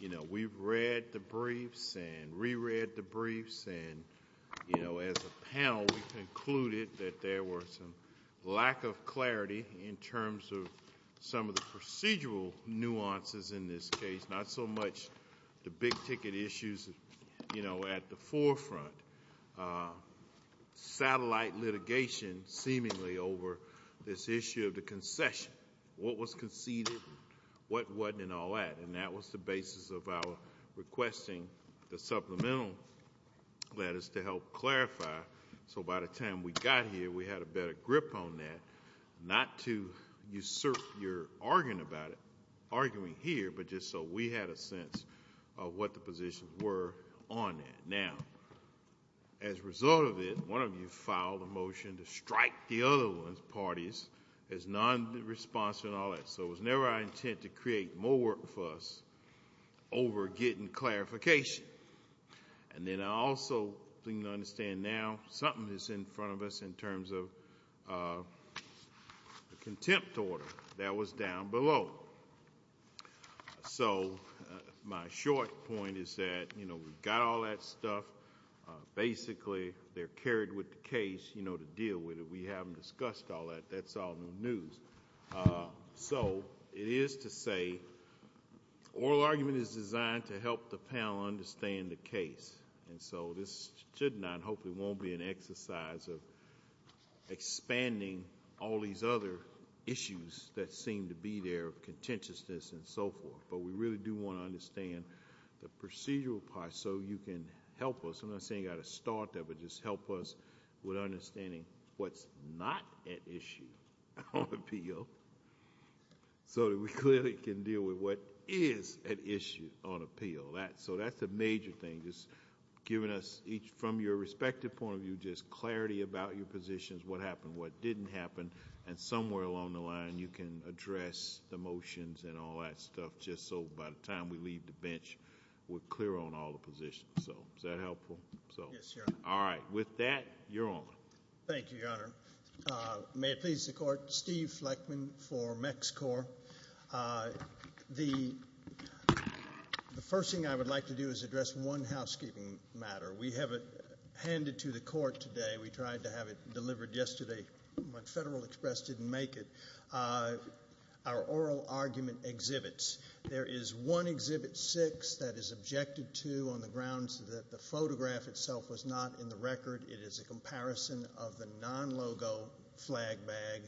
You know, we've read the briefs and re-read the briefs and, you know, as a panel, we concluded that there was some lack of clarity in terms of some of the procedural nuances in this case, not so much the big ticket issues, you know, at the forefront, satellite litigation seemingly, over this issue of the concession, what was conceded, what wasn't, and all that. And that was the basis of our requesting the supplemental letters to help clarify, so by the time we got here, we had a better grip on that, not to usurp your argument about it, arguing here, but just so we had a sense of what the positions were on that. Now, as a result of it, one of you filed a motion to strike the other one's parties as non-responsive and all that, so it was never our intent to create more work for us over getting clarification. And then I also think you understand now something is in front of us in terms of the contempt order that was down below. So, my short point is that, you know, we've got all that stuff, basically they're carried with the case, you know, to deal with it, we haven't discussed all that, that's all new news. So, it is to say, oral argument is designed to help the panel understand the case, and so this should not, hopefully won't be an exercise of expanding all these other issues that seem to be there, contentiousness and so forth, but we really do want to understand the procedural part so you can help us, I'm not saying you've got to start that, but just help us with understanding what's not at issue on appeal, so that we clearly can deal with what is at issue on appeal. So that's a major thing, just giving us, from your respective point of view, just clarity about your positions, what happened, what didn't happen, and somewhere along the line you can address the motions and all that stuff, just so by the time we leave the bench, we're clear on all the positions, so, is that helpful? Yes, Your Honor. Alright, with that, you're on. Thank you, Your Honor. May it please the Court, Steve Fleckman for MexiCorps. The first thing I would like to do is address one housekeeping matter. We have it handed to the Court today, we tried to have it delivered yesterday, but Federal Express didn't make it, our oral argument exhibits. There is one Exhibit 6 that is objected to on the grounds that the photograph itself was not in the record, it is a comparison of the non-logo flag bag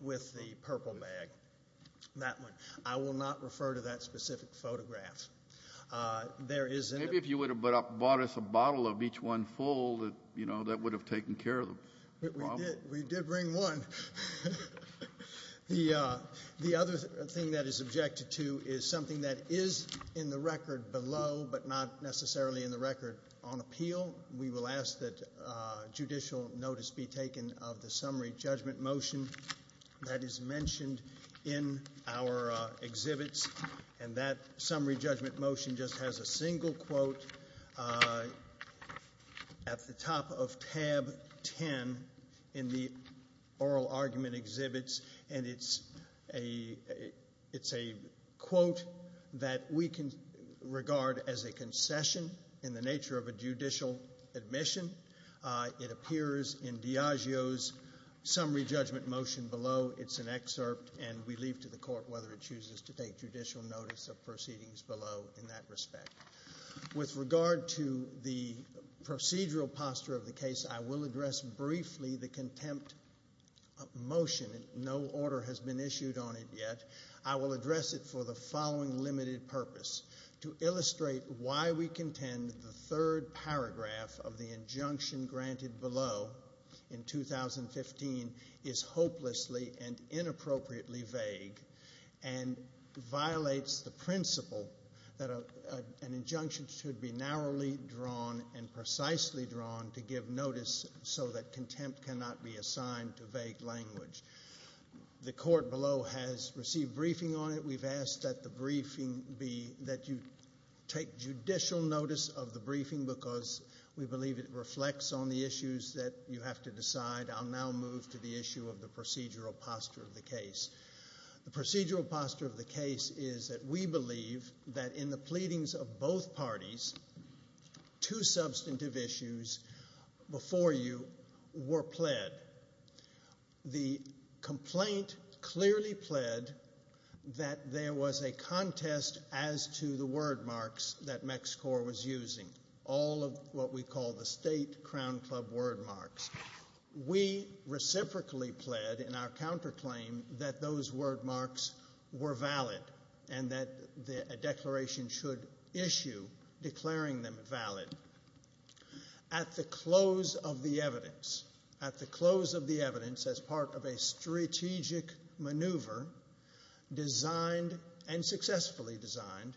with the purple bag, that one. I will not refer to that specific photograph. There is... Maybe if you would have bought us a bottle of each one full, that would have taken care of the problem. We did bring one. The other thing that is objected to is something that is in the record below, but not necessarily in the record on appeal. We will ask that judicial notice be taken of the Summary Judgment Motion that is mentioned in our exhibits, and that Summary Judgment Motion just has a single quote at the top of tab 10 in the oral argument exhibits, and it's a quote that we can regard as a concession in the nature of a judicial admission. It appears in Diageo's Summary Judgment Motion below, it's an excerpt, and we leave to the Court whether it chooses to take judicial notice of proceedings below in that respect. With regard to the procedural posture of the case, I will address briefly the contempt motion. No order has been issued on it yet. I will address it for the following limited purpose. To illustrate why we contend the third paragraph of the injunction granted below in 2015 is hopelessly and inappropriately vague, and violates the principle that an injunction should be narrowly drawn and precisely drawn to give notice so that contempt cannot be assigned to vague language. The Court below has received briefing on it. We've asked that you take judicial notice of the briefing because we believe it reflects on the issues that you have to decide. I'll now move to the issue of the procedural posture of the case. The procedural posture of the case is that we believe that in the pleadings of both parties, two substantive issues before you were pled. The complaint clearly pled that there was a contest as to the word marks that MexiCorps was using, all of what we call the State Crown Club word marks. We reciprocally pled in our counterclaim that those word marks were valid and that a declaration should issue declaring them valid. At the close of the evidence, at the close of the evidence as part of a strategic maneuver designed and successfully designed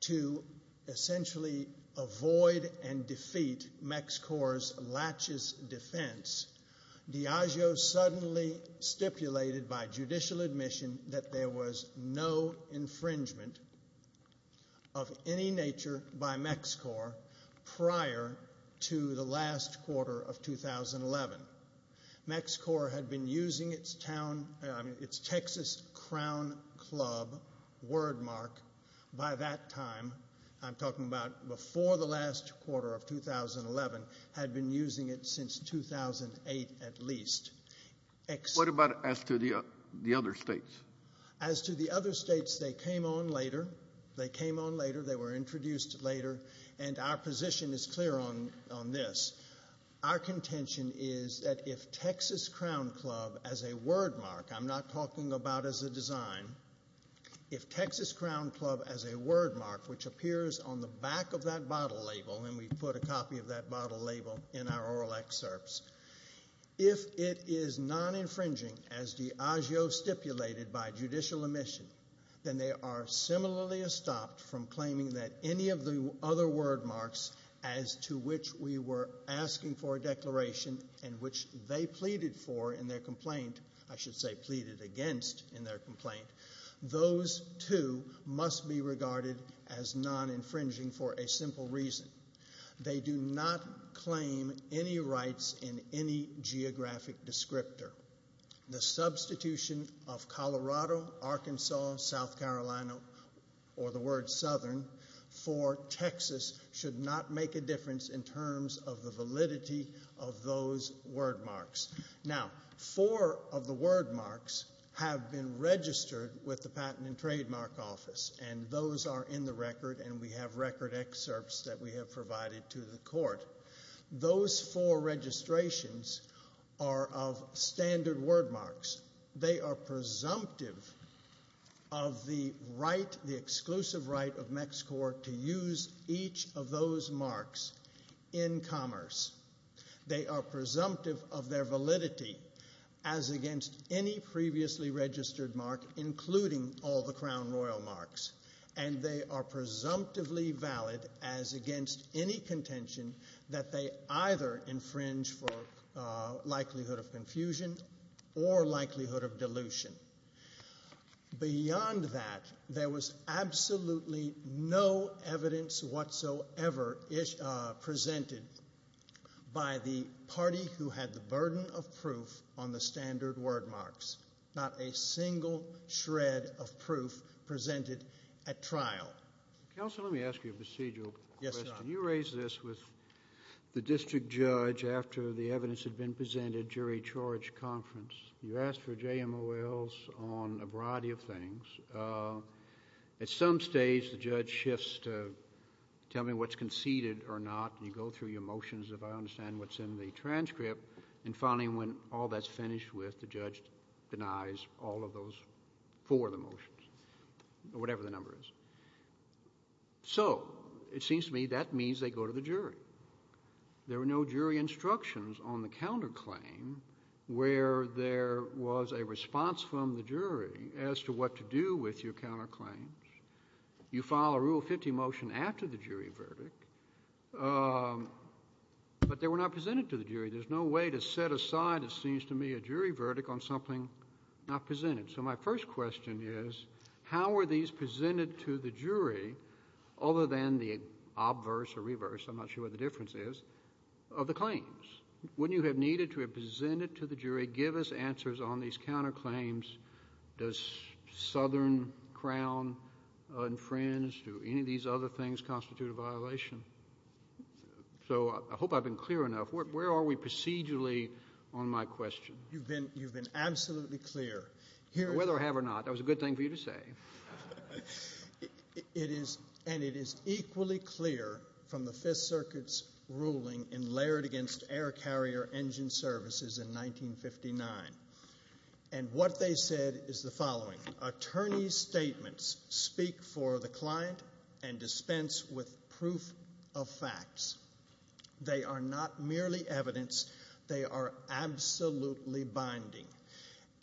to essentially avoid and defeat MexiCorps' lachis defense, Diageo suddenly stipulated by judicial admission that there was no infringement of any nature by MexiCorps prior to the last quarter of 2011. MexiCorps had been using its Texas Crown Club word mark by that time, I'm talking about before the last quarter of 2011, had been using it since 2008 at least. What about as to the other states? As to the other states, they came on later. They came on later. They were introduced later. And our position is clear on this. Our contention is that if Texas Crown Club as a word mark, I'm not talking about as a design, if Texas Crown Club as a word mark, which appears on the back of that bottle label, and we put a copy of that bottle label in our oral excerpts, if it is non-infringing as Diageo stipulated by judicial admission, then they are similarly stopped from claiming that any of the other word marks as to which we were asking for a declaration and which they pleaded for in their complaint, I should say pleaded against in their complaint, those two must be regarded as non-infringing for a simple reason. They do not claim any rights in any geographic descriptor. The substitution of Colorado, Arkansas, South Carolina, or the word Southern for Texas should not make a difference in terms of the validity of those word marks. Now four of the word marks have been registered with the Patent and Trademark Office, and those are in the record, and we have record excerpts that we have provided to the court. Those four registrations are of standard word marks. They are presumptive of the right, the exclusive right of MexiCorps to use each of those marks in commerce. They are presumptive of their validity as against any previously registered mark, including all the Crown Royal marks, and they are presumptively valid as against any contention that they either infringe for likelihood of confusion or likelihood of dilution. Beyond that, there was absolutely no evidence whatsoever presented by the party who had the burden of proof on the standard word marks, not a single shred of proof presented at trial. Counsel, let me ask you a procedural question. Yes, Your Honor. You raised this with the district judge after the evidence had been presented at Jury Charge Conference. You asked for JMOLs on a variety of things. At some stage, the judge shifts to tell me what's conceded or not, and you go through your motions, if I understand what's in the transcript, and finally, when all that's finished with, the judge denies all of those for the motions, or whatever the number is. So it seems to me that means they go to the jury. There were no jury instructions on the counterclaim where there was a response from the jury as to what to do with your counterclaims. You file a Rule 50 motion after the jury verdict, but they were not presented to the jury. There's no way to set aside, it seems to me, a jury verdict on something not presented. So my first question is, how were these presented to the jury, other than the obverse or reverse, I'm not sure what the difference is, of the claims? Wouldn't you have needed to have presented to the jury, give us answers on these counterclaims? Does Southern Crown and Friends, do any of these other things constitute a violation? So I hope I've been clear enough. Where are we procedurally on my question? You've been absolutely clear. Whether I have or not, that was a good thing for you to say. And it is equally clear from the Fifth Circuit's ruling in layered against air carrier engine services in 1959. And what they said is the following, attorney's statements speak for the client and dispense with proof of facts. They are not merely evidence, they are absolutely binding.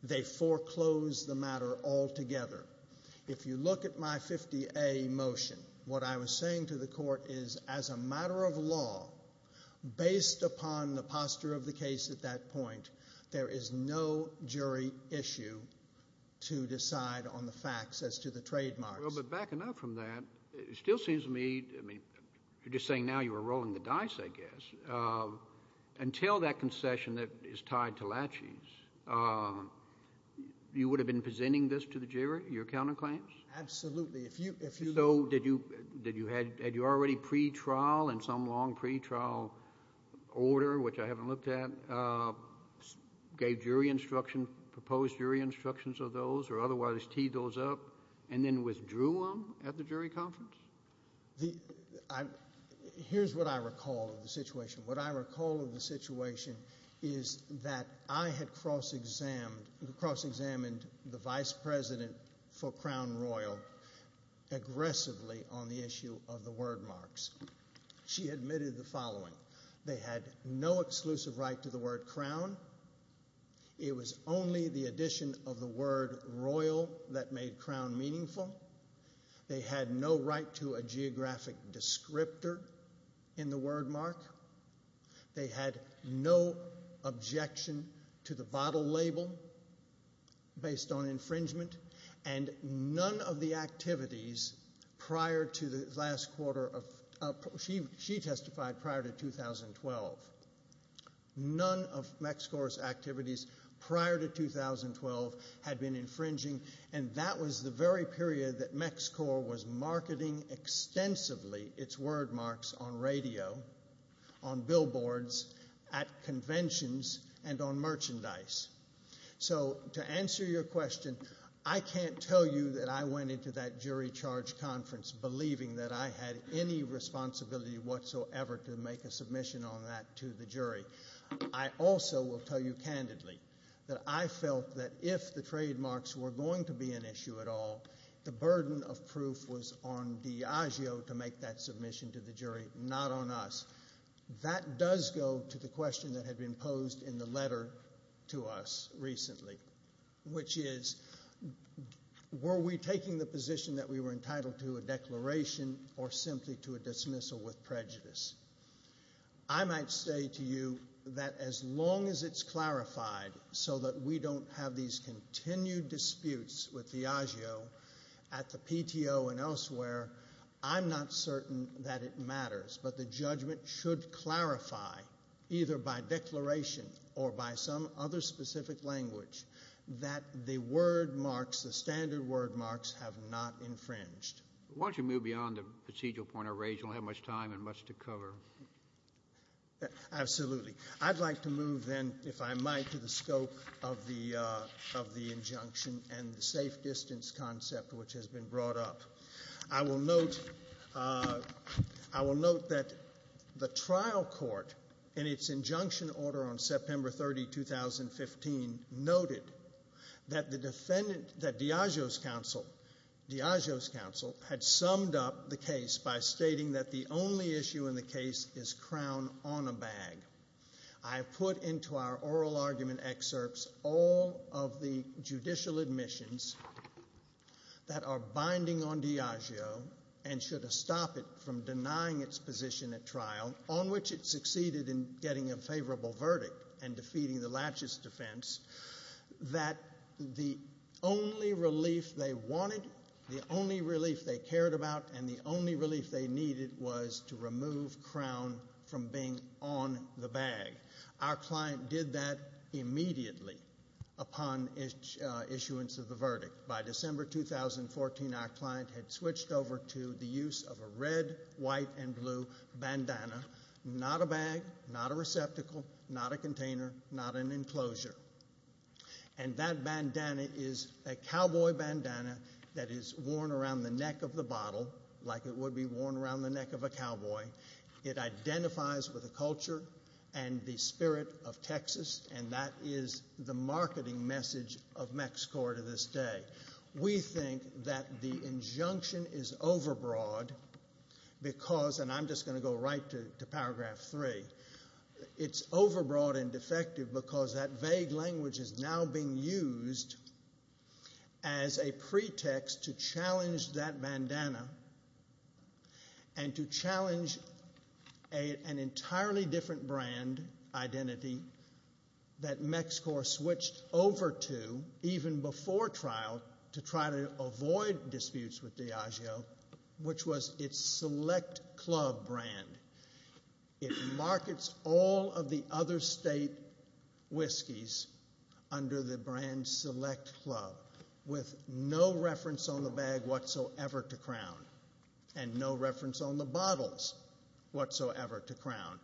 They foreclose the matter altogether. If you look at my 50A motion, what I was saying to the court is, as a matter of law, based upon the posture of the case at that point, there is no jury issue to decide on the facts as to the trademarks. Well, but backing up from that, it still seems to me, I mean, you're just saying now you were rolling the dice, I guess. Until that concession that is tied to laches, you would have been presenting this to the jury, your counterclaims? Absolutely. So, had you already pre-trial, in some long pre-trial order, which I haven't looked at, gave jury instruction, proposed jury instructions of those, or otherwise teed those up, and then withdrew them at the jury conference? Here's what I recall of the situation. What I recall of the situation is that I had cross-examined the vice president for Crown and Royal aggressively on the issue of the word marks. She admitted the following. They had no exclusive right to the word Crown. It was only the addition of the word Royal that made Crown meaningful. They had no right to a geographic descriptor in the word mark. They had no objection to the bottle label based on infringement. And none of the activities prior to the last quarter, she testified prior to 2012, none of MexCorp's activities prior to 2012 had been infringing, and that was the very period that MexCorp was marketing extensively its word marks on radio, on billboards, at conventions, and on merchandise. So to answer your question, I can't tell you that I went into that jury charge conference believing that I had any responsibility whatsoever to make a submission on that to the jury. I also will tell you candidly that I felt that if the trademarks were going to be an issue at all, the burden of proof was on Diageo to make that submission to the jury, not on us. That does go to the question that had been posed in the letter to us recently, which is, were we taking the position that we were entitled to a declaration or simply to a dismissal with prejudice? I might say to you that as long as it's clarified so that we don't have these continued disputes with Diageo at the PTO and elsewhere, I'm not certain that it matters. But the judgment should clarify, either by declaration or by some other specific language, that the word marks, the standard word marks, have not infringed. Why don't you move beyond the procedural point I raised? We don't have much time and much to cover. Absolutely. I'd like to move then, if I might, to the scope of the injunction and the safe distance concept which has been brought up. I will note that the trial court, in its injunction order on September 30, 2015, noted that Diageo's counsel had summed up the case by stating that the only issue in the case is crown on a bag. I put into our oral argument excerpts all of the judicial admissions that are binding on Diageo and should stop it from denying its position at trial, on which it succeeded in getting a favorable verdict and defeating the laches defense, that the only relief they wanted, the only relief they cared about, and the only relief they needed was to remove crown from being on the bag. Our client did that immediately upon issuance of the verdict. By December 2014, our client had switched over to the use of a red, white, and blue bandana, not a bag, not a receptacle, not a container, not an enclosure. That bandana is a cowboy bandana that is worn around the neck of the bottle like it would be worn around the neck of a cowboy. It identifies with the culture and the spirit of Texas, and that is the marketing message of MexCorp to this day. We think that the injunction is overbroad because, and I'm just going to go right to paragraph three, it's overbroad and defective because that vague language is now being used as a pretext to challenge that bandana and to challenge an entirely different brand identity that MexCorp switched over to even before trial to try to avoid disputes with Diageo, which was its Select Club brand. It markets all of the other state whiskeys under the brand Select Club with no reference on the bag whatsoever to crown and no reference on the bottles whatsoever to crown.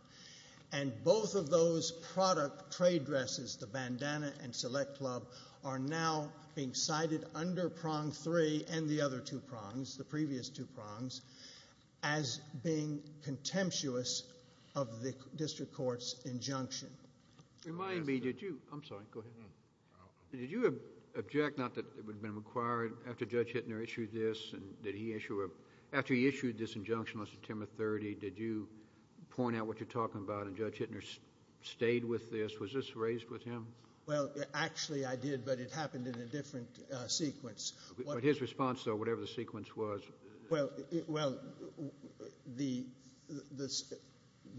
And both of those product trade dresses, the bandana and Select Club, are now being cited under prong three and the other two prongs, the previous two prongs, as being contemptuous of the district court's injunction. Remind me, did you, I'm sorry, go ahead. Did you object, not that it would have been required after Judge Hittner issued this, and did he issue a, after he issued this injunction, Mr. Timothy, did you point out what you're talking about and Judge Hittner stayed with this? Was this raised with him? Well, actually I did, but it happened in a different sequence. His response, though, whatever the sequence was. Well, the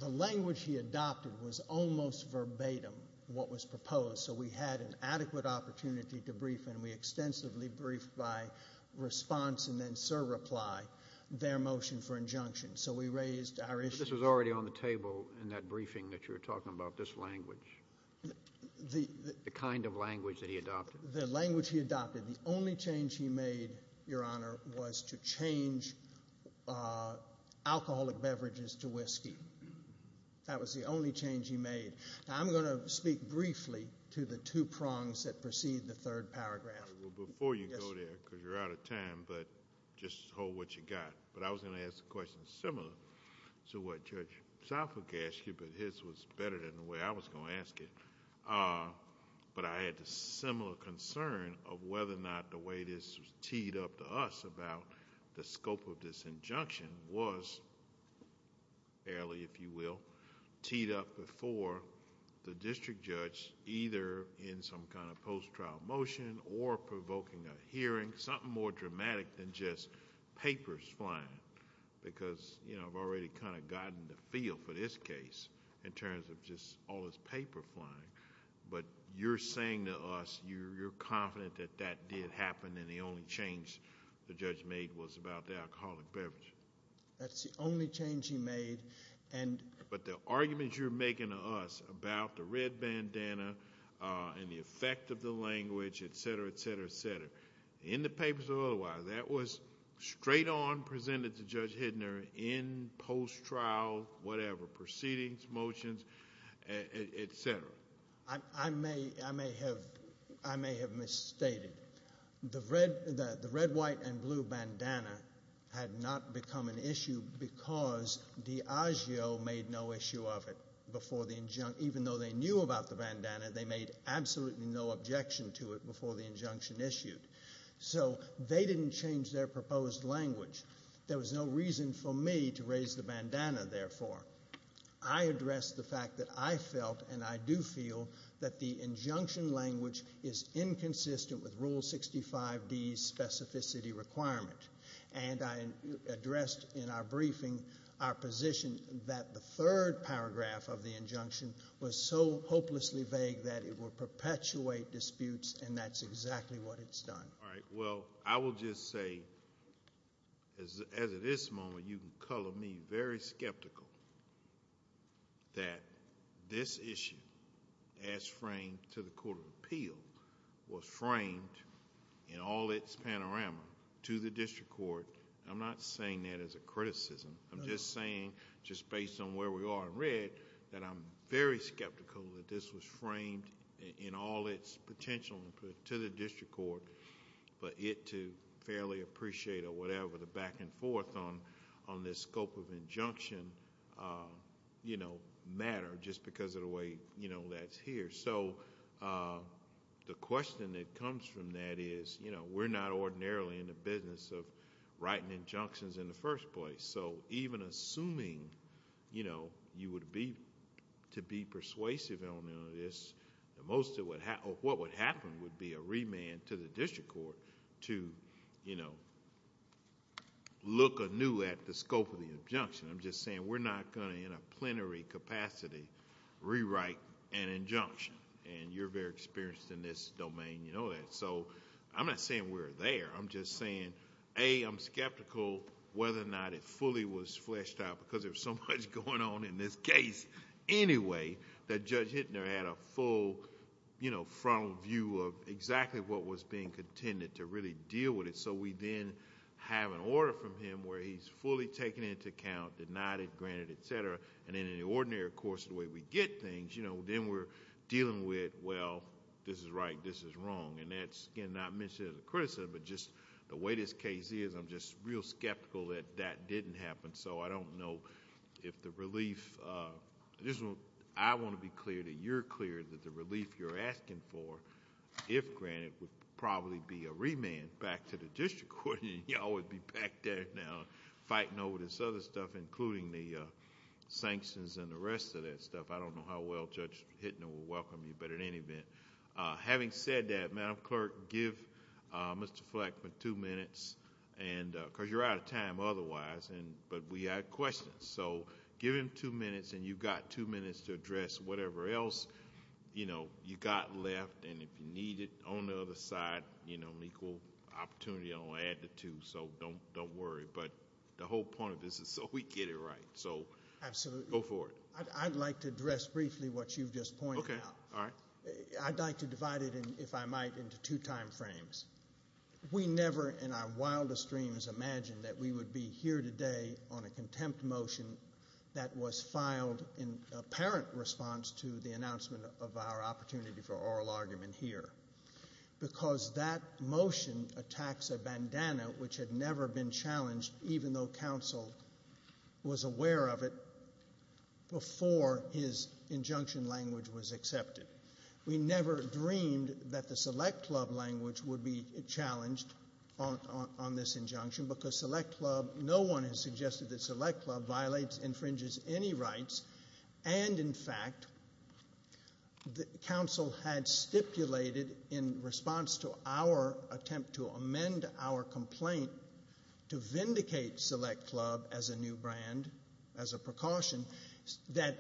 language he adopted was almost verbatim what was proposed, so we had an adequate opportunity to brief and we extensively briefed by response and then sir reply their motion for injunction. So we raised our issue. This was already on the table in that briefing that you were talking about, this language. The kind of language that he adopted. The language he adopted. The only change he made, Your Honor, was to change alcoholic beverages to whiskey. That was the only change he made. Now I'm going to speak briefly to the two prongs that precede the third paragraph. Well, before you go there, because you're out of time, but just hold what you got, but I was going to ask a question similar to what Judge Southwick asked you, but his was better than the way I was going to ask it, but I had a similar concern of whether or not the way this was teed up to us about the scope of this injunction was fairly, if you will, teed up before the district judge, either in some kind of post-trial motion or provoking a hearing, something more dramatic than just papers flying, because I've already kind of gotten the feel for this case in terms of just all this paper flying, but you're saying to us you're confident that that did happen and the only change the judge made was about the alcoholic beverage. That's the only change he made. But the arguments you're making to us about the red bandana and the effect of the language, et cetera, et cetera, et cetera, in the papers or otherwise, that was straight on presented to Judge Hidner in post-trial, whatever, proceedings, motions, et cetera. I may have misstated. The red, white, and blue bandana had not become an issue because Diageo made no issue of it before the injunction, even though they knew about the bandana, they made absolutely no objection to it before the injunction issued. So they didn't change their proposed language. There was no reason for me to raise the bandana, therefore. I address the fact that I felt and I do feel that the injunction language is inconsistent with Rule 65D's specificity requirement. And I addressed in our briefing our position that the third paragraph of the injunction was so hopelessly vague that it will perpetuate disputes and that's exactly what it's done. All right, well, I will just say, as of this moment, you can color me very skeptical that this issue as framed to the Court of Appeal was framed in all its panorama to the district court. I'm not saying that as a criticism. I'm just saying, just based on where we are in red, that I'm very skeptical that this was framed in all its potential to the district court, but it to fairly appreciate or whatever the back and forth on this scope of injunction matter just because of the way that's here. So the question that comes from that is, we're not ordinarily in the business of writing injunctions in the first place. So even assuming you would be to be persuasive on this, most of what would happen would be a remand to the district court to look anew at the scope of the injunction. I'm just saying we're not going to, in a plenary capacity, rewrite an injunction and you're very experienced in this domain, you know that. So I'm not saying we're there. I'm just saying, A, I'm skeptical whether or not it fully was fleshed out because there's so much going on in this case anyway, that Judge Hittner had a full, you know, frontal view of exactly what was being contended to really deal with it. So we then have an order from him where he's fully taken into account, denied it, granted it, et cetera, and in an ordinary course, the way we get things, you know, then we're dealing with, well, this is right, this is wrong, and that's, again, not mentioned as a remand, but just the way this case is, I'm just real skeptical that that didn't happen. So I don't know if the relief... I want to be clear that you're clear that the relief you're asking for, if granted, would probably be a remand back to the district court, and you all would be back there now fighting over this other stuff, including the sanctions and the rest of that stuff. I don't know how well Judge Hittner will welcome you, but in any event. Having said that, Madam Clerk, give Mr. Fleck two minutes, because you're out of time otherwise, but we have questions. So give him two minutes, and you've got two minutes to address whatever else, you know, you got left, and if you need it on the other side, you know, an equal opportunity, I'll add the two, so don't worry. But the whole point of this is so we get it right. So go for it. Absolutely. I'd like to address briefly what you've just pointed out. All right. I'd like to divide it, if I might, into two time frames. We never in our wildest dreams imagined that we would be here today on a contempt motion that was filed in apparent response to the announcement of our opportunity for oral argument here, because that motion attacks a bandana which had never been challenged, even though it, before his injunction language was accepted. We never dreamed that the Select Club language would be challenged on this injunction, because Select Club, no one has suggested that Select Club violates, infringes any rights, and in fact, the council had stipulated in response to our attempt to amend our complaint to vindicate Select Club as a new brand, as a precaution, that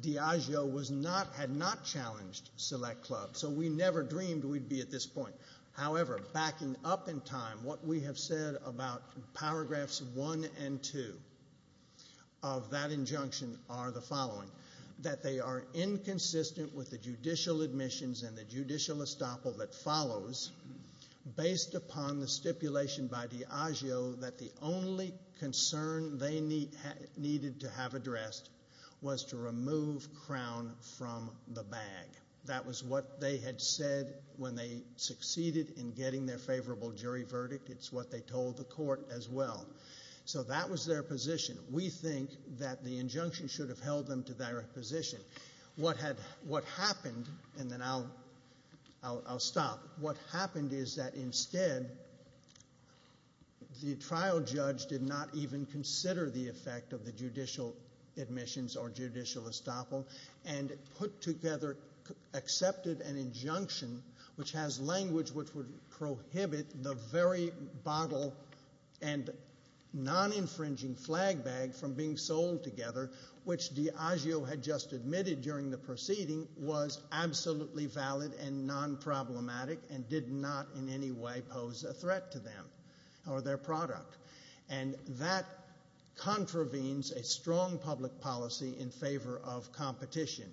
Diageo was not, had not challenged Select Club. So we never dreamed we'd be at this point. However, backing up in time, what we have said about paragraphs one and two of that injunction are the following, that they are inconsistent with the judicial admissions and the judicial estoppel that follows, based upon the stipulation by Diageo that the only concern they needed to have addressed was to remove Crown from the bag. That was what they had said when they succeeded in getting their favorable jury verdict. It's what they told the court as well. So that was their position. We think that the injunction should have held them to their position. What happened, and then I'll stop, what happened is that instead, the trial judge did not even consider the effect of the judicial admissions or judicial estoppel, and put together, accepted an injunction which has language which would prohibit the very bottle and non-infringing flag bag from being sold together, which Diageo had just admitted during the proceeding was absolutely valid and non-problematic, and did not in any way pose a threat to them or their product. And that contravenes a strong public policy in favor of competition.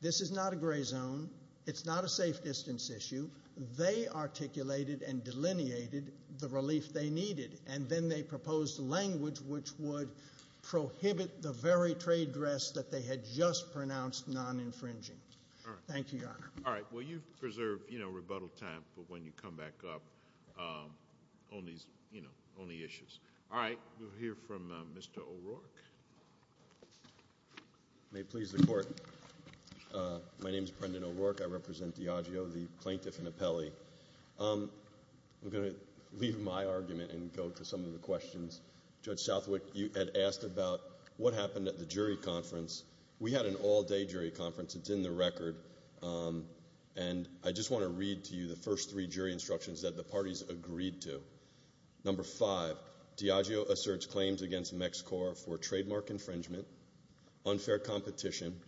This is not a gray zone. It's not a safe distance issue. They articulated and delineated the relief they needed. And then they proposed language which would prohibit the very trade dress that they had just pronounced non-infringing. Thank you, Your Honor. All right, well you've preserved rebuttal time for when you come back up on the issues. All right, we'll hear from Mr. O'Rourke. May it please the court. My name's Brendan O'Rourke, I represent Diageo, the plaintiff and appellee. I'm going to leave my argument and go to some of the questions. Judge Southwick, you had asked about what happened at the jury conference. We had an all-day jury conference, it's in the record, and I just want to read to you the first three jury instructions that the parties agreed to. Number five, Diageo asserts claims against MexCorp for trademark infringement, unfair competition,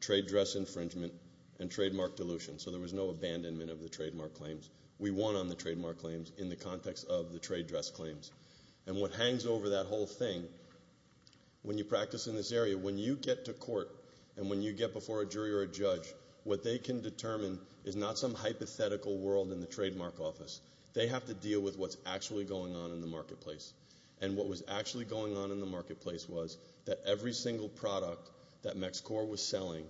trade dress infringement, and trademark dilution. So there was no abandonment of the trademark claims. We won on the trademark claims in the context of the trade dress claims. And what hangs over that whole thing, when you practice in this area, when you get to court and when you get before a jury or a judge, what they can determine is not some hypothetical world in the trademark office. They have to deal with what's actually going on in the marketplace. And what was actually going on in the marketplace was that every single product that MexCorp was selling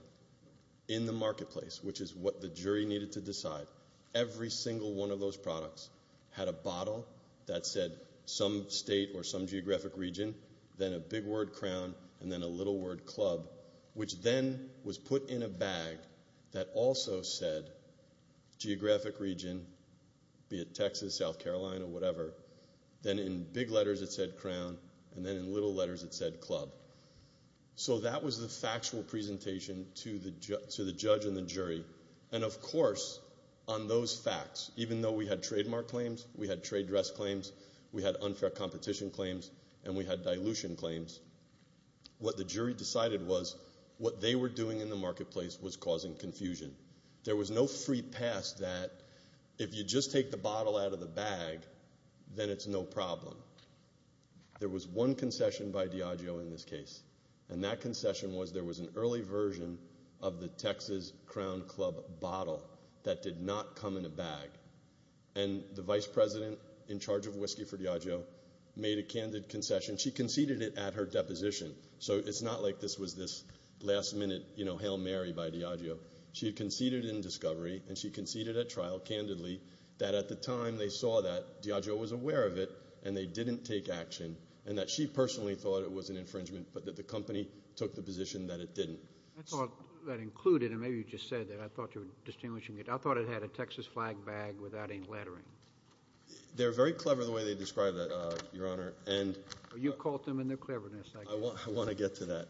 in the marketplace, which is what the jury needed to decide, every single one of those products had a bottle that said some state or some geographic region, then a big word crown, and then a little word club, which then was put in a bag that also said geographic region. Be it Texas, South Carolina, whatever. Then in big letters it said crown, and then in little letters it said club. So that was the factual presentation to the judge and the jury. And of course, on those facts, even though we had trademark claims, we had trade dress claims, we had unfair competition claims, and we had dilution claims. What the jury decided was what they were doing in the marketplace was causing confusion. There was no free pass that if you just take the bottle out of the bag, then it's no problem. There was one concession by Diageo in this case, and that concession was there was an early version of the Texas Crown Club bottle that did not come in a bag. And the vice president in charge of whiskey for Diageo made a candid concession. She conceded it at her deposition. So it's not like this was this last minute, you know, Hail Mary by Diageo. She had conceded in discovery, and she conceded at trial, candidly, that at the time they saw that, and they didn't take action, and that she personally thought it was an infringement, but that the company took the position that it didn't. That's all that included, and maybe you just said that. I thought you were distinguishing it. I thought it had a Texas flag bag without any lettering. They're very clever the way they describe that, Your Honor. And you caught them in their cleverness. I want to get to that.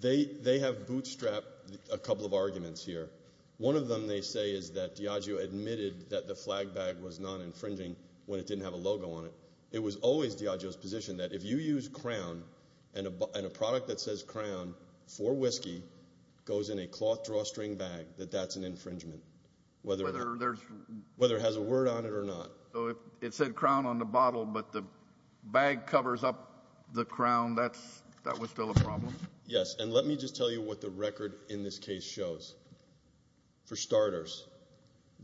They have bootstrapped a couple of arguments here. One of them they say is that Diageo admitted that the flag bag was non-infringing when it didn't have a logo on it. It was always Diageo's position that if you use crown and a product that says crown for whiskey goes in a cloth drawstring bag, that that's an infringement. Whether it has a word on it or not. So it said crown on the bottle, but the bag covers up the crown. That was still a problem. Yes, and let me just tell you what the record in this case shows. For starters,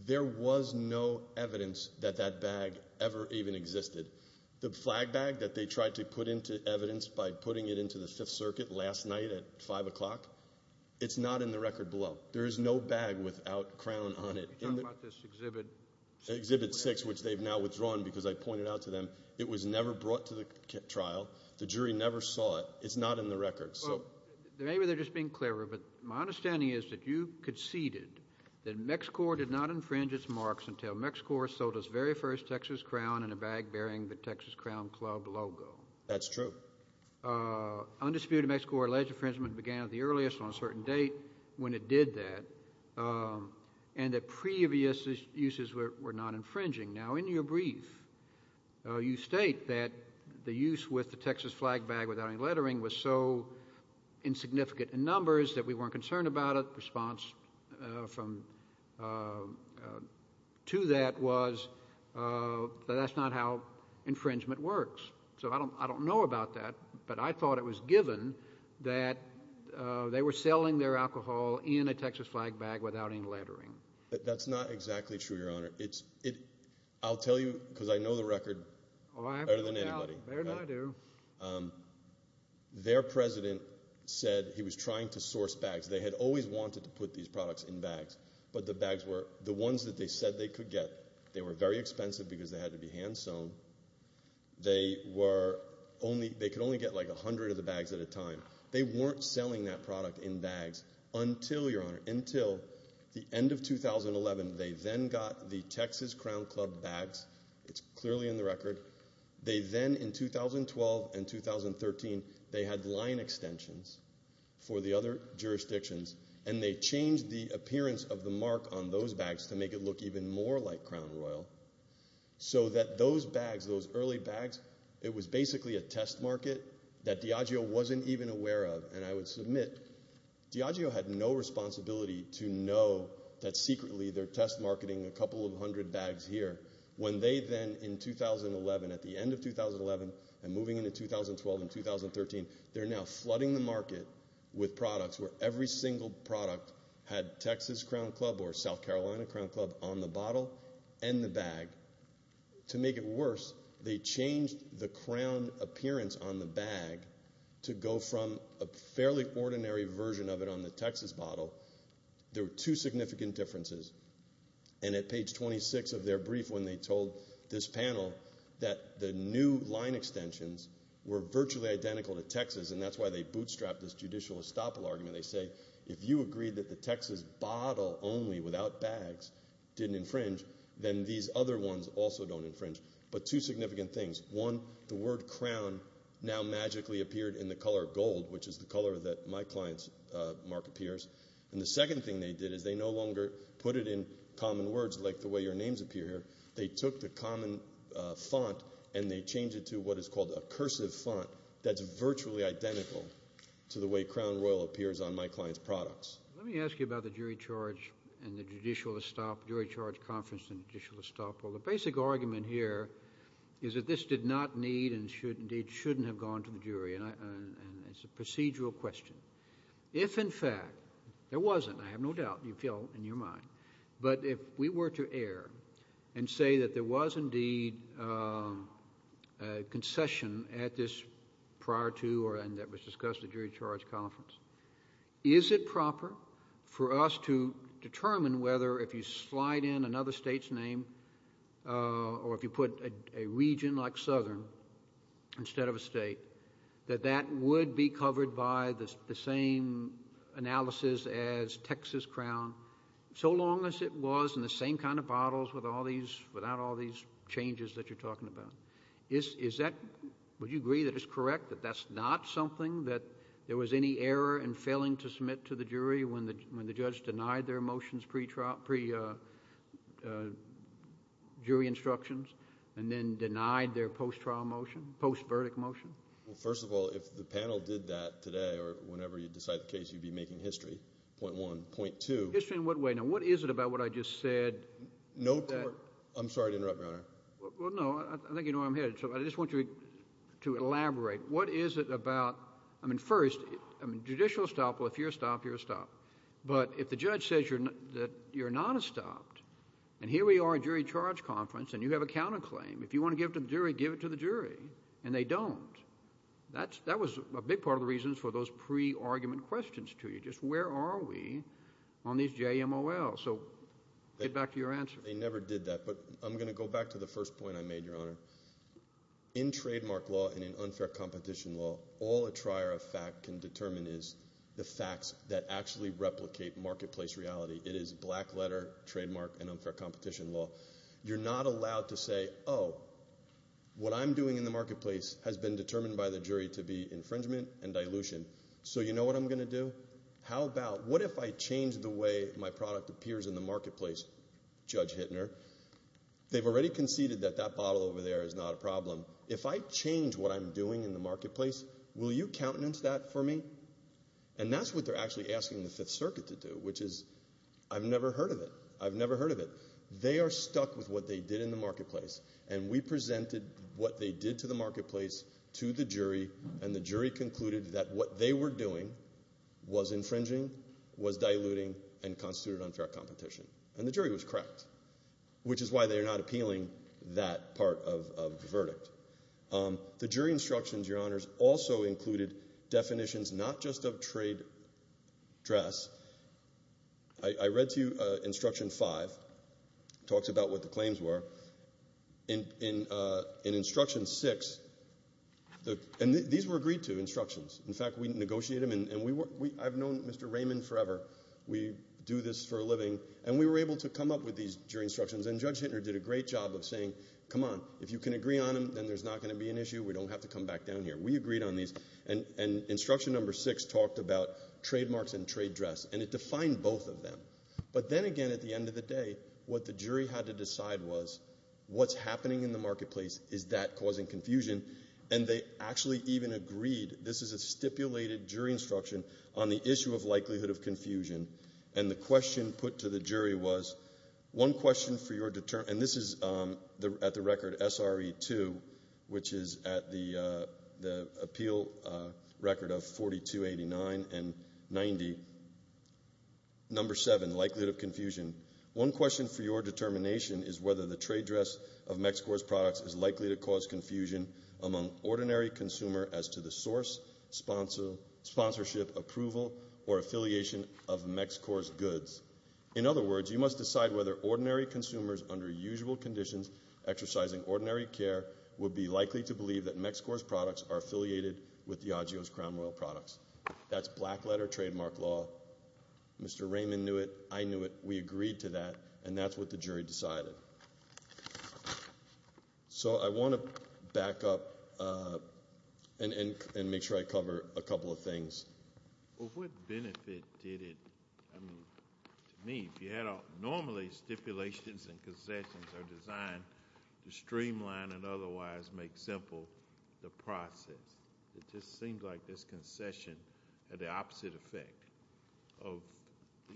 there was no evidence that that bag ever even existed. The flag bag that they tried to put into evidence by putting it into the Fifth Circuit last night at 5 o'clock, it's not in the record below. There is no bag without crown on it. You're talking about this Exhibit 6? Exhibit 6, which they've now withdrawn because I pointed out to them. It was never brought to the trial. The jury never saw it. It's not in the record. Maybe they're just being clever, but my understanding is that you conceded that MexiCorps did not infringe its marks until MexiCorps sold its very first Texas crown in a bag bearing the Texas Crown Club logo. That's true. Undisputed, MexiCorps alleged infringement began at the earliest on a certain date when it did that, and that previous uses were not infringing. Now, in your brief, you state that the use with the Texas flag bag without any lettering was so insignificant in numbers that we weren't concerned about it. Response to that was that that's not how infringement works. So I don't know about that, but I thought it was given that they were selling their alcohol in a Texas flag bag without any lettering. That's not exactly true, Your Honor. I'll tell you, because I know the record better than anybody. Better than I do. Their president said he was trying to source bags. They had always wanted to put these products in bags, but the bags were, the ones that they said they could get, they were very expensive because they had to be hand-sewn. They were only, they could only get like 100 of the bags at a time. They weren't selling that product in bags until, Your Honor, until the end of 2011. It's clearly in the record. They then, in 2012 and 2013, they had line extensions for the other jurisdictions, and they changed the appearance of the mark on those bags to make it look even more like Crown Royal, so that those bags, those early bags, it was basically a test market that Diageo wasn't even aware of, and I would submit, Diageo had no responsibility to know that secretly they're test marketing a couple of hundred bags here, when they then, in 2011, at the end of 2011, and moving into 2012 and 2013, they're now flooding the market with products where every single product had Texas Crown Club or South Carolina Crown Club on the bottle and the bag. To make it worse, they changed the crown appearance on the bag to go from a fairly ordinary version of it on the Texas bottle. There were two significant differences, and at page 26 of their brief, when they told this panel that the new line extensions were virtually identical to Texas, and that's why they bootstrapped this judicial estoppel argument, they say, if you agree that the Texas bottle only, without bags, didn't infringe, then these other ones also don't infringe. But two significant things, one, the word crown now magically appeared in the color gold, which is the color that my client's mark appears, and the second thing they did is they no longer put it in common words, like the way your names appear here, they took the common font and they changed it to what is called a cursive font that's virtually identical to the way crown royal appears on my client's products. Let me ask you about the jury charge and the judicial estoppel, jury charge conference and judicial estoppel. The basic argument here is that this did not need and should indeed shouldn't have gone to the jury, and it's a procedural question. If, in fact, there wasn't, I have no doubt, you feel in your mind, but if we were to err and say that there was indeed a concession at this prior to or and that was discussed at jury charge conference, is it proper for us to determine whether if you slide in another state's name or if you put a region like southern instead of a state, that that would be covered by the same analysis as Texas crown so long as it was in the same kind of bottles with all these, without all these changes that you're talking about? Is that, would you agree that it's correct that that's not something that there was any error in failing to submit to the jury when the judge denied their motions pre-trial, pre-jury instructions and then denied their post-trial motion, post-verdict motion? Well, first of all, if the panel did that today or whenever you decide the case, you'd be making history, point one. Point two. History in what way? Now, what is it about what I just said? No court. I'm sorry to interrupt, Your Honor. Well, no, I think you know where I'm headed, so I just want you to elaborate. What is it about, I mean, first, I mean, judicial estoppel, if you're estopped, you're estopped, but if the judge says that you're not estopped, and here we are at jury charge conference, and you have a counterclaim. If you want to give it to the jury, give it to the jury, and they don't. That was a big part of the reasons for those pre-argument questions to you, just where are we on these JMOLs? So get back to your answer. They never did that, but I'm going to go back to the first point I made, Your Honor. In trademark law and in unfair competition law, all a trier of fact can determine is the facts that actually replicate marketplace reality. It is black letter, trademark, and unfair competition law. You're not allowed to say, oh, what I'm doing in the marketplace has been determined by the jury to be infringement and dilution. So you know what I'm going to do? How about, what if I change the way my product appears in the marketplace, Judge Hittner? They've already conceded that that bottle over there is not a problem. If I change what I'm doing in the marketplace, will you countenance that for me? And that's what they're actually asking the Fifth Circuit to do, which is, I've never heard of it. I've never heard of it. They are stuck with what they did in the marketplace, and we presented what they did to the marketplace to the jury, and the jury concluded that what they were doing was infringing, was diluting, and constituted unfair competition. And the jury was correct, which is why they are not appealing that part of the verdict. The jury instructions, Your Honors, also included definitions not just of trade dress. I read to you Instruction 5, talks about what the claims were. In Instruction 6, and these were agreed to, instructions. In fact, we negotiated them, and I've known Mr. Raymond forever. We do this for a living, and we were able to come up with these jury instructions, and Judge Hittner did a great job of saying, come on, if you can agree on them, then there's not going to be an issue. We don't have to come back down here. We agreed on these, and Instruction Number 6 talked about trademarks and trade dress, and it defined both of them. But then again, at the end of the day, what the jury had to decide was, what's happening in the marketplace? Is that causing confusion? And they actually even agreed, this is a stipulated jury instruction on the issue of likelihood of confusion, and the question put to the jury was, one question for your deter... And this is at the record SRE 2, which is at the appeal record of 4289 and 90. Number 7, likelihood of confusion. One question for your determination is whether the trade dress of MECSCOR's products is likely to cause confusion among ordinary consumer as to the source, sponsorship, approval, or affiliation of MECSCOR's goods. In other words, you must decide whether ordinary consumers under usual conditions, exercising ordinary care, would be likely to believe that MECSCOR's products are affiliated with the IGEO's Crown Royal products. That's black letter trademark law. Mr. Raymond knew it, I knew it, we agreed to that, and that's what the jury decided. So I wanna back up and make sure I cover a couple of things. Well, what benefit did it, I mean, to me, if you had a, normally stipulations and concessions are designed to streamline and otherwise make simple the process. It just seems like this concession had the opposite effect of,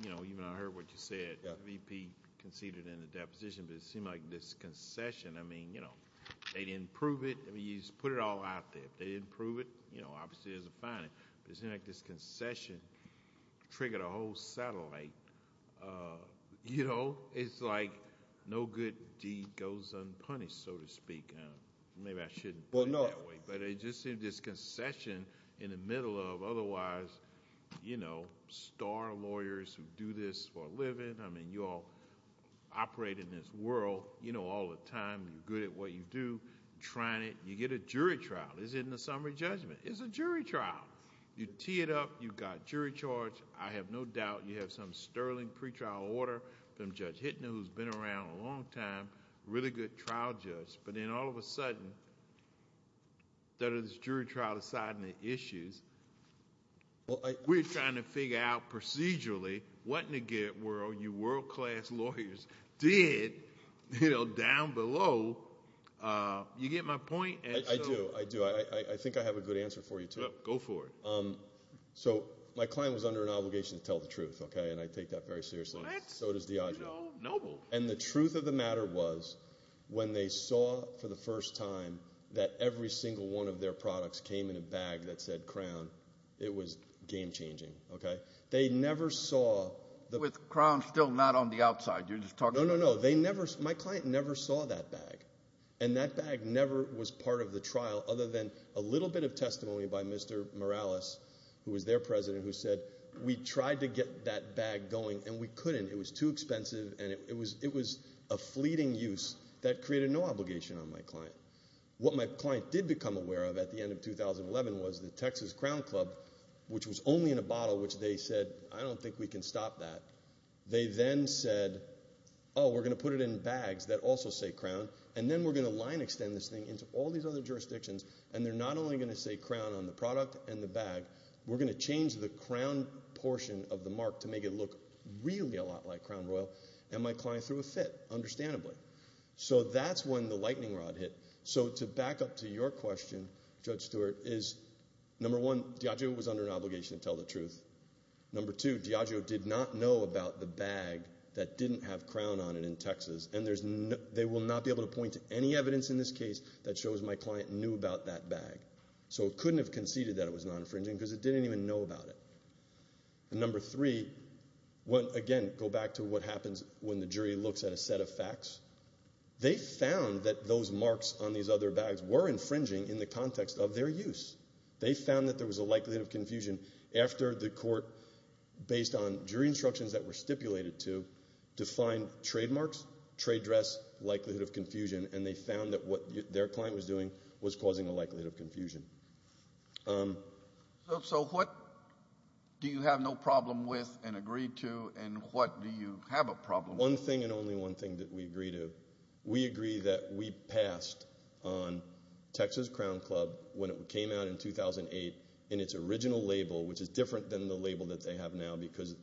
you know, even I heard what you said, VP conceded in the deposition, but it seemed like this concession, I mean, you know, they didn't prove it, I mean, you just put it all out there. If they didn't prove it, you know, obviously there's a fine, but it seemed like this concession triggered a whole satellite, you know, it's like no good deed goes unpunished, so to speak. Maybe I shouldn't put it that way, but it just seemed this concession in the middle of otherwise, you know, star lawyers who do this for a living, I mean, you all operate in this world, you know, all the time, you're good at what you do, trying it, you get a jury trial. Is it in the summary judgment? It's a jury trial. You tee it up, you've got jury charge, I have no doubt you have some sterling pre-trial order from Judge Hittner, who's been around a long time, really good trial judge, but then all of a sudden, that is jury trial aside and the issues, we're trying to figure out procedurally what in the world you world-class lawyers did, you know, down below, you get my point? I do, I do, I think I have a good answer for you too. Go for it. So my client was under an obligation to tell the truth, okay, and I take that very seriously, so does Diageo. And the truth of the matter was, when they saw for the first time that every single one of their products came in a bag that said Crown, it was game-changing, okay? They never saw the- With Crown still not on the outside, you're just talking- No, no, no, they never, my client never saw that bag, and that bag never was part of the trial other than a little bit of testimony by Mr. Morales, who was their president, who said, we tried to get that bag going and we couldn't, it was too expensive and it was a fleeting use that created no obligation on my client. What my client did become aware of at the end of 2011 was the Texas Crown Club, which was only in a bottle, which they said, I don't think we can stop that. They then said, oh, we're gonna put it in bags that also say Crown, and then we're gonna line extend this thing into all these other jurisdictions, and they're not only gonna say Crown on the product and the bag, we're gonna change the Crown portion of the mark to make it look really a lot like Crown Royal, and my client threw a fit, understandably. So that's when the lightning rod hit. So to back up to your question, Judge Stewart, is number one, Diageo was under an obligation to tell the truth. Number two, Diageo did not know about the bag that didn't have Crown on it in Texas, and they will not be able to point to any evidence in this case that shows my client knew about that bag. So it couldn't have conceded that it was non-infringing because it didn't even know about it. And number three, again, go back to what happens when the jury looks at a set of facts. They found that those marks on these other bags were infringing in the context of their use. They found that there was a likelihood of confusion after the court, based on jury instructions that were stipulated to, defined trademarks, trade dress, likelihood of confusion, and they found that what their client was doing was causing a likelihood of confusion. So what do you have no problem with and agree to, and what do you have a problem with? One thing and only one thing that we agree to. We agree that we passed on Texas Crown Club when it came out in 2008 in its original label, which is different than the label that they have now because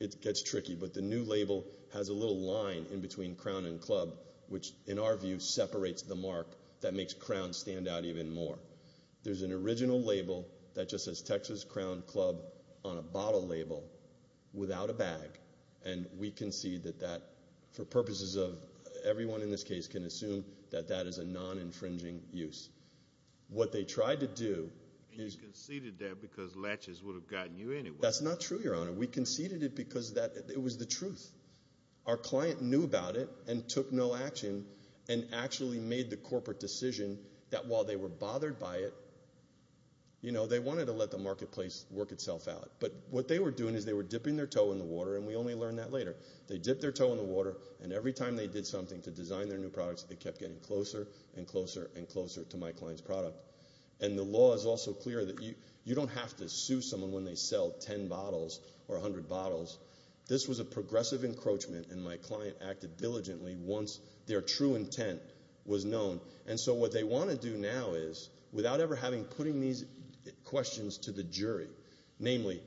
it gets tricky, but the new label has a little line in between crown and club, which, in our view, separates the mark that makes crown stand out even more. There's an original label that just says Texas Crown Club on a bottle label without a bag, and we concede that that, for purposes of, everyone in this case can assume that that is a non-infringing use. What they tried to do is- And you conceded that because latches would have gotten you anywhere. That's not true, Your Honor. We conceded it because it was the truth. Our client knew about it and took no action and actually made the corporate decision that while they were bothered by it, they wanted to let the marketplace work itself out. But what they were doing is they were dipping their toe in the water, and we only learned that later. They dipped their toe in the water, and every time they did something to design their new products, they kept getting closer and closer and closer to my client's product. And the law is also clear that you don't have to sue someone when they sell 10 bottles or 100 bottles. This was a progressive encroachment, and my client acted diligently once their true intent was known. And so what they wanna do now is, without ever putting these questions to the jury, namely,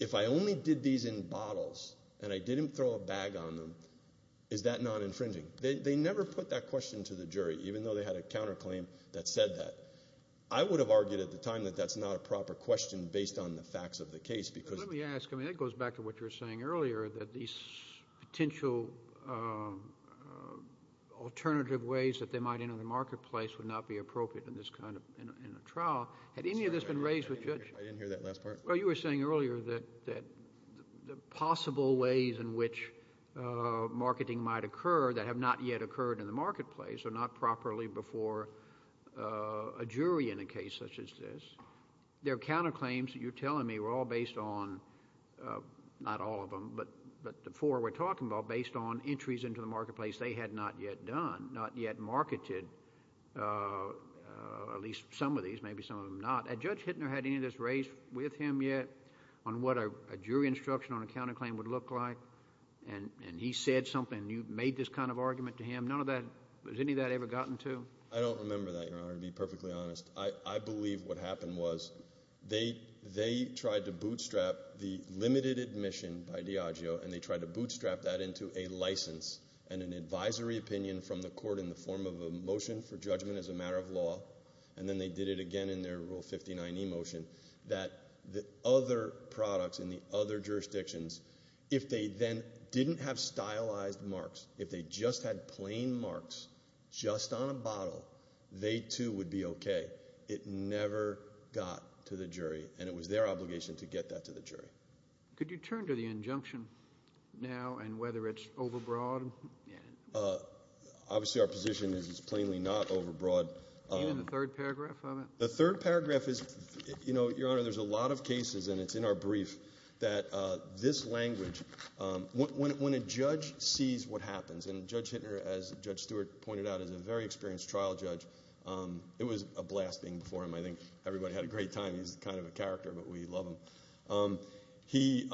if I only did these in bottles and I didn't throw a bag on them, is that non-infringing? They never put that question to the jury, even though they had a counterclaim that said that. I would have argued at the time that that's not a proper question based on the facts of the case because of the- Let me ask, I mean, it goes back to what you were saying earlier, that these potential alternative ways that they might enter the marketplace would not be appropriate in this kind of, in a trial. Had any of this been raised with you? I didn't hear that last part. Well, you were saying earlier that the possible ways in which marketing might occur that have not yet occurred in the marketplace or not properly before a jury in a case such as this. Their counterclaims, you're telling me, were all based on, not all of them, but the four we're talking about, based on entries into the marketplace they had not yet done, not yet marketed. At least some of these, maybe some of them not. Had Judge Hittner had any of this raised with him yet on what a jury instruction on a counterclaim would look like? And he said something, you made this kind of argument to him. Has any of that ever gotten to him? I don't remember that, Your Honor, to be perfectly honest. I believe what happened was they tried to bootstrap the limited admission by Diageo, and they tried to bootstrap that into a license and an advisory opinion from the court in the form of a motion for judgment as a matter of law. And then they did it again in their Rule 59e motion that the other products in the other jurisdictions, if they then didn't have stylized marks, if they just had plain marks, just on a bottle, they too would be okay. It never got to the jury, and it was their obligation to get that to the jury. Could you turn to the injunction now and whether it's overbroad? Obviously our position is it's plainly not overbroad. Even the third paragraph of it? The third paragraph is, Your Honor, there's a lot of cases, and it's in our brief, that this language, when a judge sees what happens, and Judge Hittner, as Judge Stewart pointed out, is a very experienced trial judge. It was a blast being before him. I think everybody had a great time. He's kind of a character, but we love him. We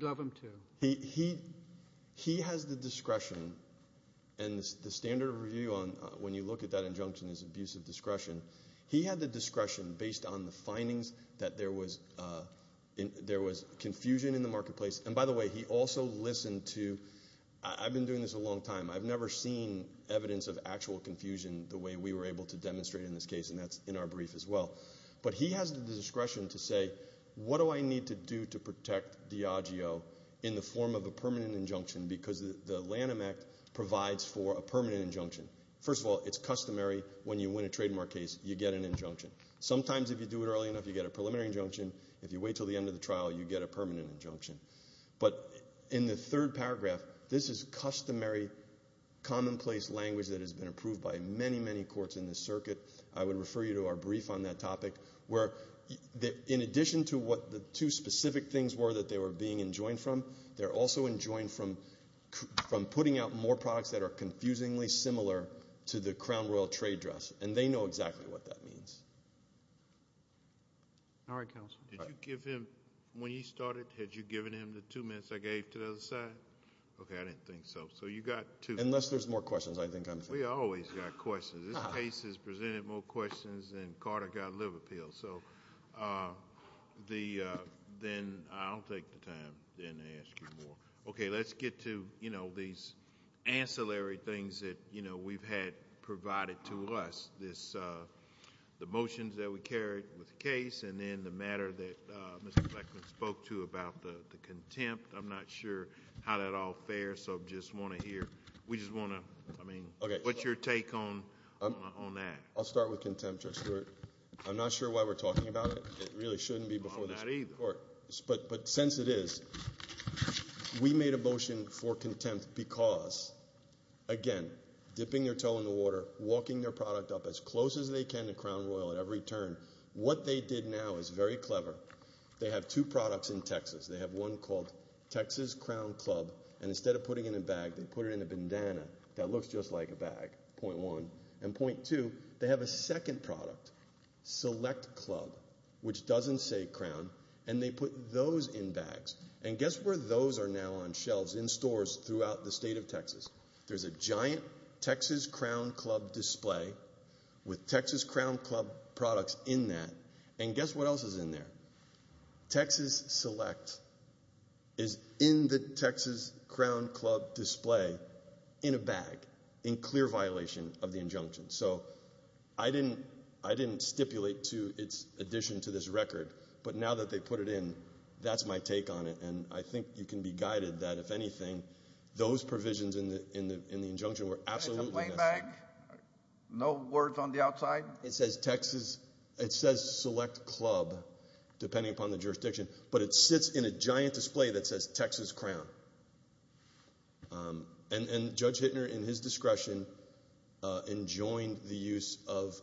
love him too. He has the discretion, and the standard of review when you look at that injunction is abusive discretion. He had the discretion based on the findings that there was confusion in the marketplace, and by the way, he also listened to, I've been doing this a long time, I've never seen evidence of actual confusion the way we were able to demonstrate in this case, and that's in our brief as well. But he has the discretion to say, what do I need to do to protect Diageo in the form of a permanent injunction because the Lanham Act provides for a permanent injunction. First of all, it's customary, when you win a trademark case, you get an injunction. Sometimes if you do it early enough, you get a preliminary injunction. If you wait till the end of the trial, you get a permanent injunction. But in the third paragraph, this is customary commonplace language that has been approved by many, many courts in this circuit. I would refer you to our brief on that topic where in addition to what the two specific things were that they were being enjoined from, they're also enjoined from putting out more products that are confusingly similar to the Crown Royal trade dress, and they know exactly what that means. All right, counsel. Did you give him, when you started, had you given him the two minutes I gave to the other side? Okay, I didn't think so. So you got two. Unless there's more questions, I think I'm finished. We always got questions. This case has presented more questions than Carter got liver pills. So then I'll take the time then to ask you more. Okay, let's get to these ancillary things that we've had provided to us. The motions that we carried with the case and then the matter that Mr. Fleckman spoke to about the contempt. I'm not sure how that all fares, so just wanna hear, we just wanna, I mean, what's your take on that? I'll start with contempt, Judge Stewart. I'm not sure why we're talking about it. It really shouldn't be before the Supreme Court. But since it is, we made a motion for contempt because, again, dipping their toe in the water, walking their product up as close as they can to Crown Royal at every turn. What they did now is very clever. They have two products in Texas. They have one called Texas Crown Club, and instead of putting it in a bag, they put it in a bandana that looks just like a bag, point one. And point two, they have a second product, Select Club, which doesn't say Crown, and they put those in bags. And guess where those are now on shelves, in stores throughout the state of Texas. There's a giant Texas Crown Club display with Texas Crown Club products in that. And guess what else is in there? Texas Select is in the Texas Crown Club display in a bag, in clear violation of the injunction. So I didn't stipulate to its addition to this record, but now that they put it in, that's my take on it. And I think you can be guided that, if anything, those provisions in the injunction were absolutely- In a complaint bag? No words on the outside? It says Texas, it says Select Club, depending upon the jurisdiction, but it sits in a giant display that says Texas Crown. And Judge Hittner, in his discretion, enjoined the use of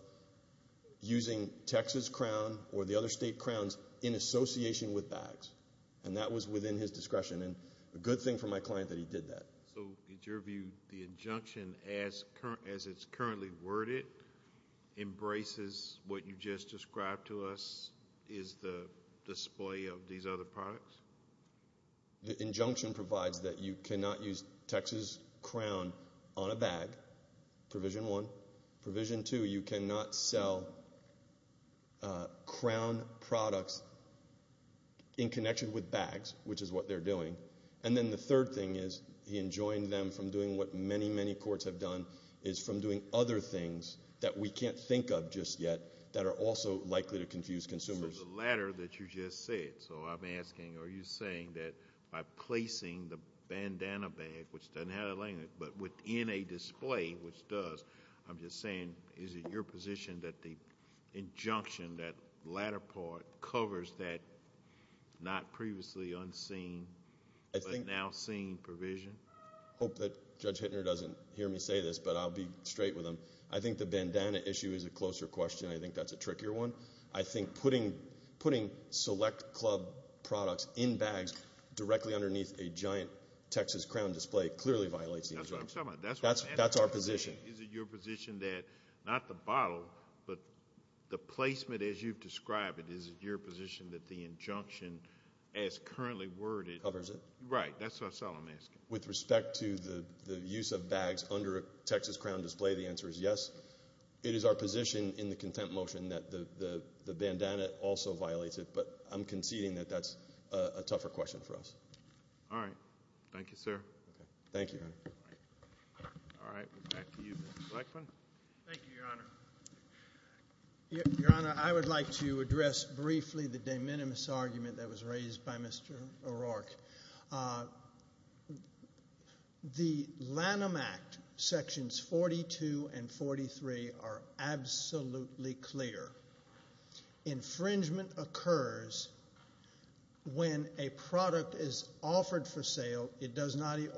using Texas Crown or the other state crowns in association with bags. And that was within his discretion. And a good thing for my client that he did that. So in your view, the injunction, as it's currently worded, embraces what you just described to us is the display of these other products? The injunction provides that you cannot use Texas Crown on a bag, provision one. Provision two, you cannot sell crown products in connection with bags, which is what they're doing. And then the third thing is, he enjoined them from doing what many, many courts have done, is from doing other things that we can't think of just yet that are also likely to confuse consumers. For the latter that you just said, so I'm asking, are you saying that by placing the bandana bag, which doesn't have it laying there, but within a display, which does, I'm just saying, is it your position that the injunction, that latter part, covers that not previously unseen, but now seen provision? Hope that Judge Hittner doesn't hear me say this, but I'll be straight with him. I think the bandana issue is a closer question. I think that's a trickier one. I think putting select club products in bags directly underneath a giant Texas Crown display clearly violates the injunction. That's what I'm talking about. That's our position. Is it your position that, not the bottle, but the placement as you've described it, is it your position that the injunction as currently worded covers it? Right, that's all I'm asking. With respect to the use of bags under a Texas Crown display, the answer is yes. It is our position in the contempt motion that the bandana also violates it, but I'm conceding that that's a tougher question for us. All right, thank you, sir. Thank you, Your Honor. All right, back to you, Mr. Blackmon. Thank you, Your Honor. Your Honor, I would like to address briefly the de minimis argument that was raised by Mr. O'Rourke. The Lanham Act sections 42 and 43 are absolutely clear. Infringement occurs when a product is offered for sale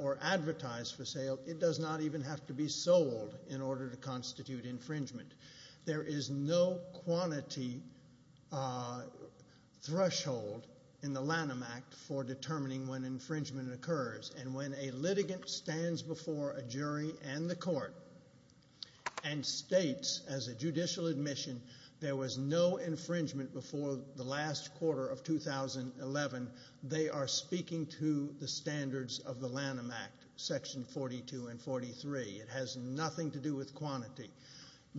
or advertised for sale. It does not even have to be sold in order to constitute infringement. There is no quantity threshold in the Lanham Act for determining when infringement occurs, and when a litigant stands before a jury and the court and states as a judicial admission there was no infringement before the last quarter of 2011, they are speaking to the standards of the Lanham Act, section 42 and 43. It has nothing to do with quantity.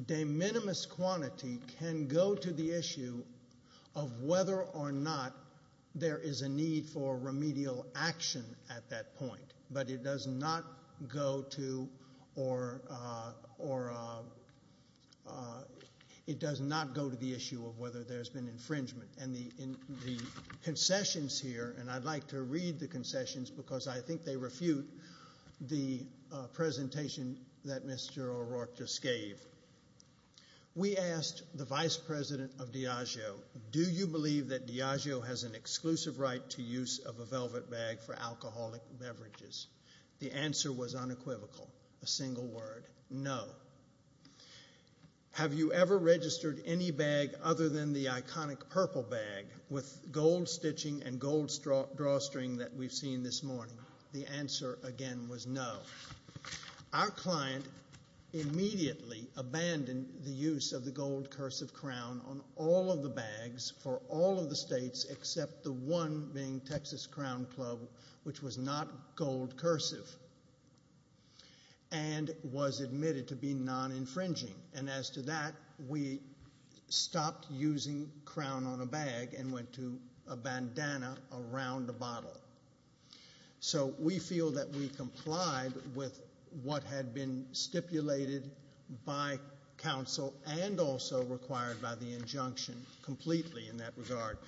De minimis quantity can go to the issue of whether or not there is a need for remedial action at that point, but it does not go to, it does not go to the issue of whether there's been infringement. And the concessions here, and I'd like to read the concessions because I think they refute the presentation that Mr. O'Rourke just gave. We asked the vice president of Diageo, do you believe that Diageo has an exclusive right to use of a velvet bag for alcoholic beverages? The answer was unequivocal, a single word, no. Have you ever registered any bag other than the iconic purple bag with gold stitching and gold drawstring that we've seen this morning? The answer again was no. Our client immediately abandoned the use of the gold cursive crown on all of the bags for all of the states except the one being Texas Crown Club, which was not gold cursive, and was admitted to be non-infringing. And as to that, we stopped using crown on a bag and went to a bandana around the bottle. So we feel that we complied with what had been stipulated by counsel and also required by the injunction completely in that regard.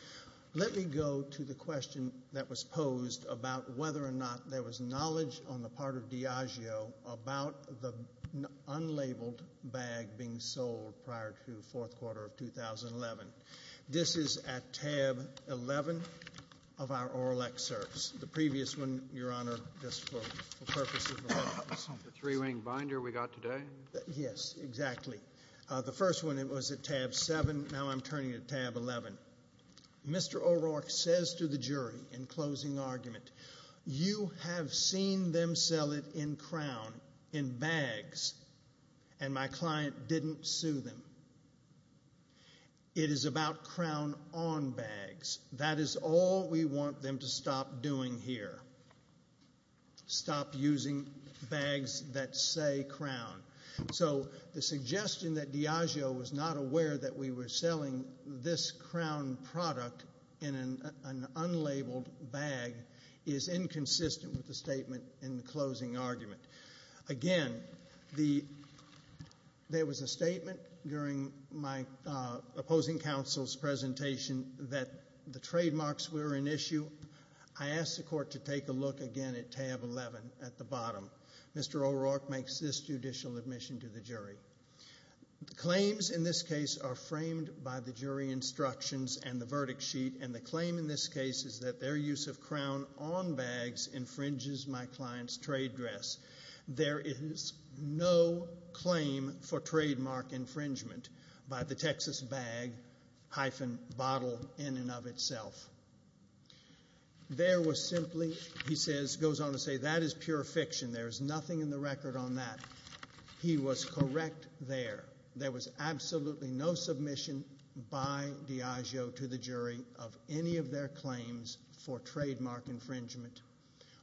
Let me go to the question that was posed about whether or not there was knowledge on the part of Diageo about the unlabeled bag being sold prior to fourth quarter of 2011. This is at tab 11 of our oral excerpts. The previous one, Your Honor, just for purposes of reference. The three-wing binder we got today? Yes, exactly. The first one, it was at tab seven. Now I'm turning to tab 11. Mr. O'Rourke says to the jury in closing argument, you have seen them sell it in crown, in bags, and my client didn't sue them. It is about crown on bags. That is all we want them to stop doing here. Stop using bags that say crown. So the suggestion that Diageo was not aware that we were selling this crown product in an unlabeled bag is inconsistent with the statement in the closing argument. Again, there was a statement during my opposing counsel's presentation that the trademarks were an issue. I asked the court to take a look again at tab 11 at the bottom. Mr. O'Rourke makes this judicial admission to the jury. Claims in this case are framed by the jury instructions and the verdict sheet, and the claim in this case is that their use of crown on bags infringes my client's trade dress. There is no claim for trademark infringement by the Texas bag-bottle in and of itself. There was simply, he goes on to say, that is pure fiction. There is nothing in the record on that. He was correct there. There was absolutely no submission by Diageo to the jury of any of their claims for trademark infringement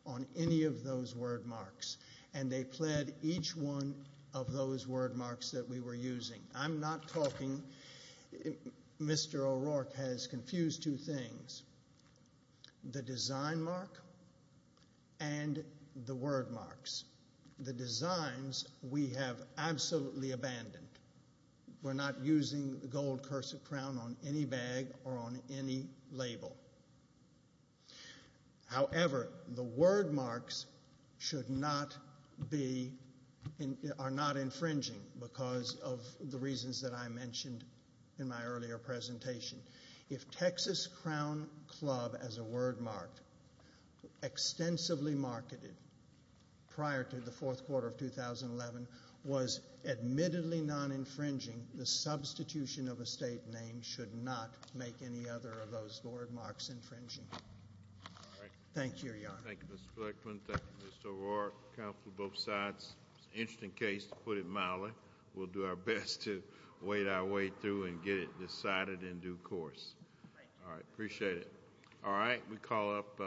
on any of those word marks, and they pled each one of those word marks that we were using. I'm not talking, Mr. O'Rourke has confused two things, the design mark and the word marks. The designs we have absolutely abandoned. We're not using the gold cursive crown on any bag or on any label. However, the word marks should not be, are not infringing because of the reasons that I mentioned in my earlier presentation. If Texas Crown Club, as a word mark, extensively marketed prior to the fourth quarter of 2011 was admittedly non-infringing, the substitution of a state name should not make any other of those word marks infringing. Thank you, Your Honor. Thank you, Mr. Blackmon. Thank you, Mr. O'Rourke. Counsel to both sides. Interesting case, to put it mildly. We'll do our best to wade our way through and get it decided in due course. All right, appreciate it. All right, we call up.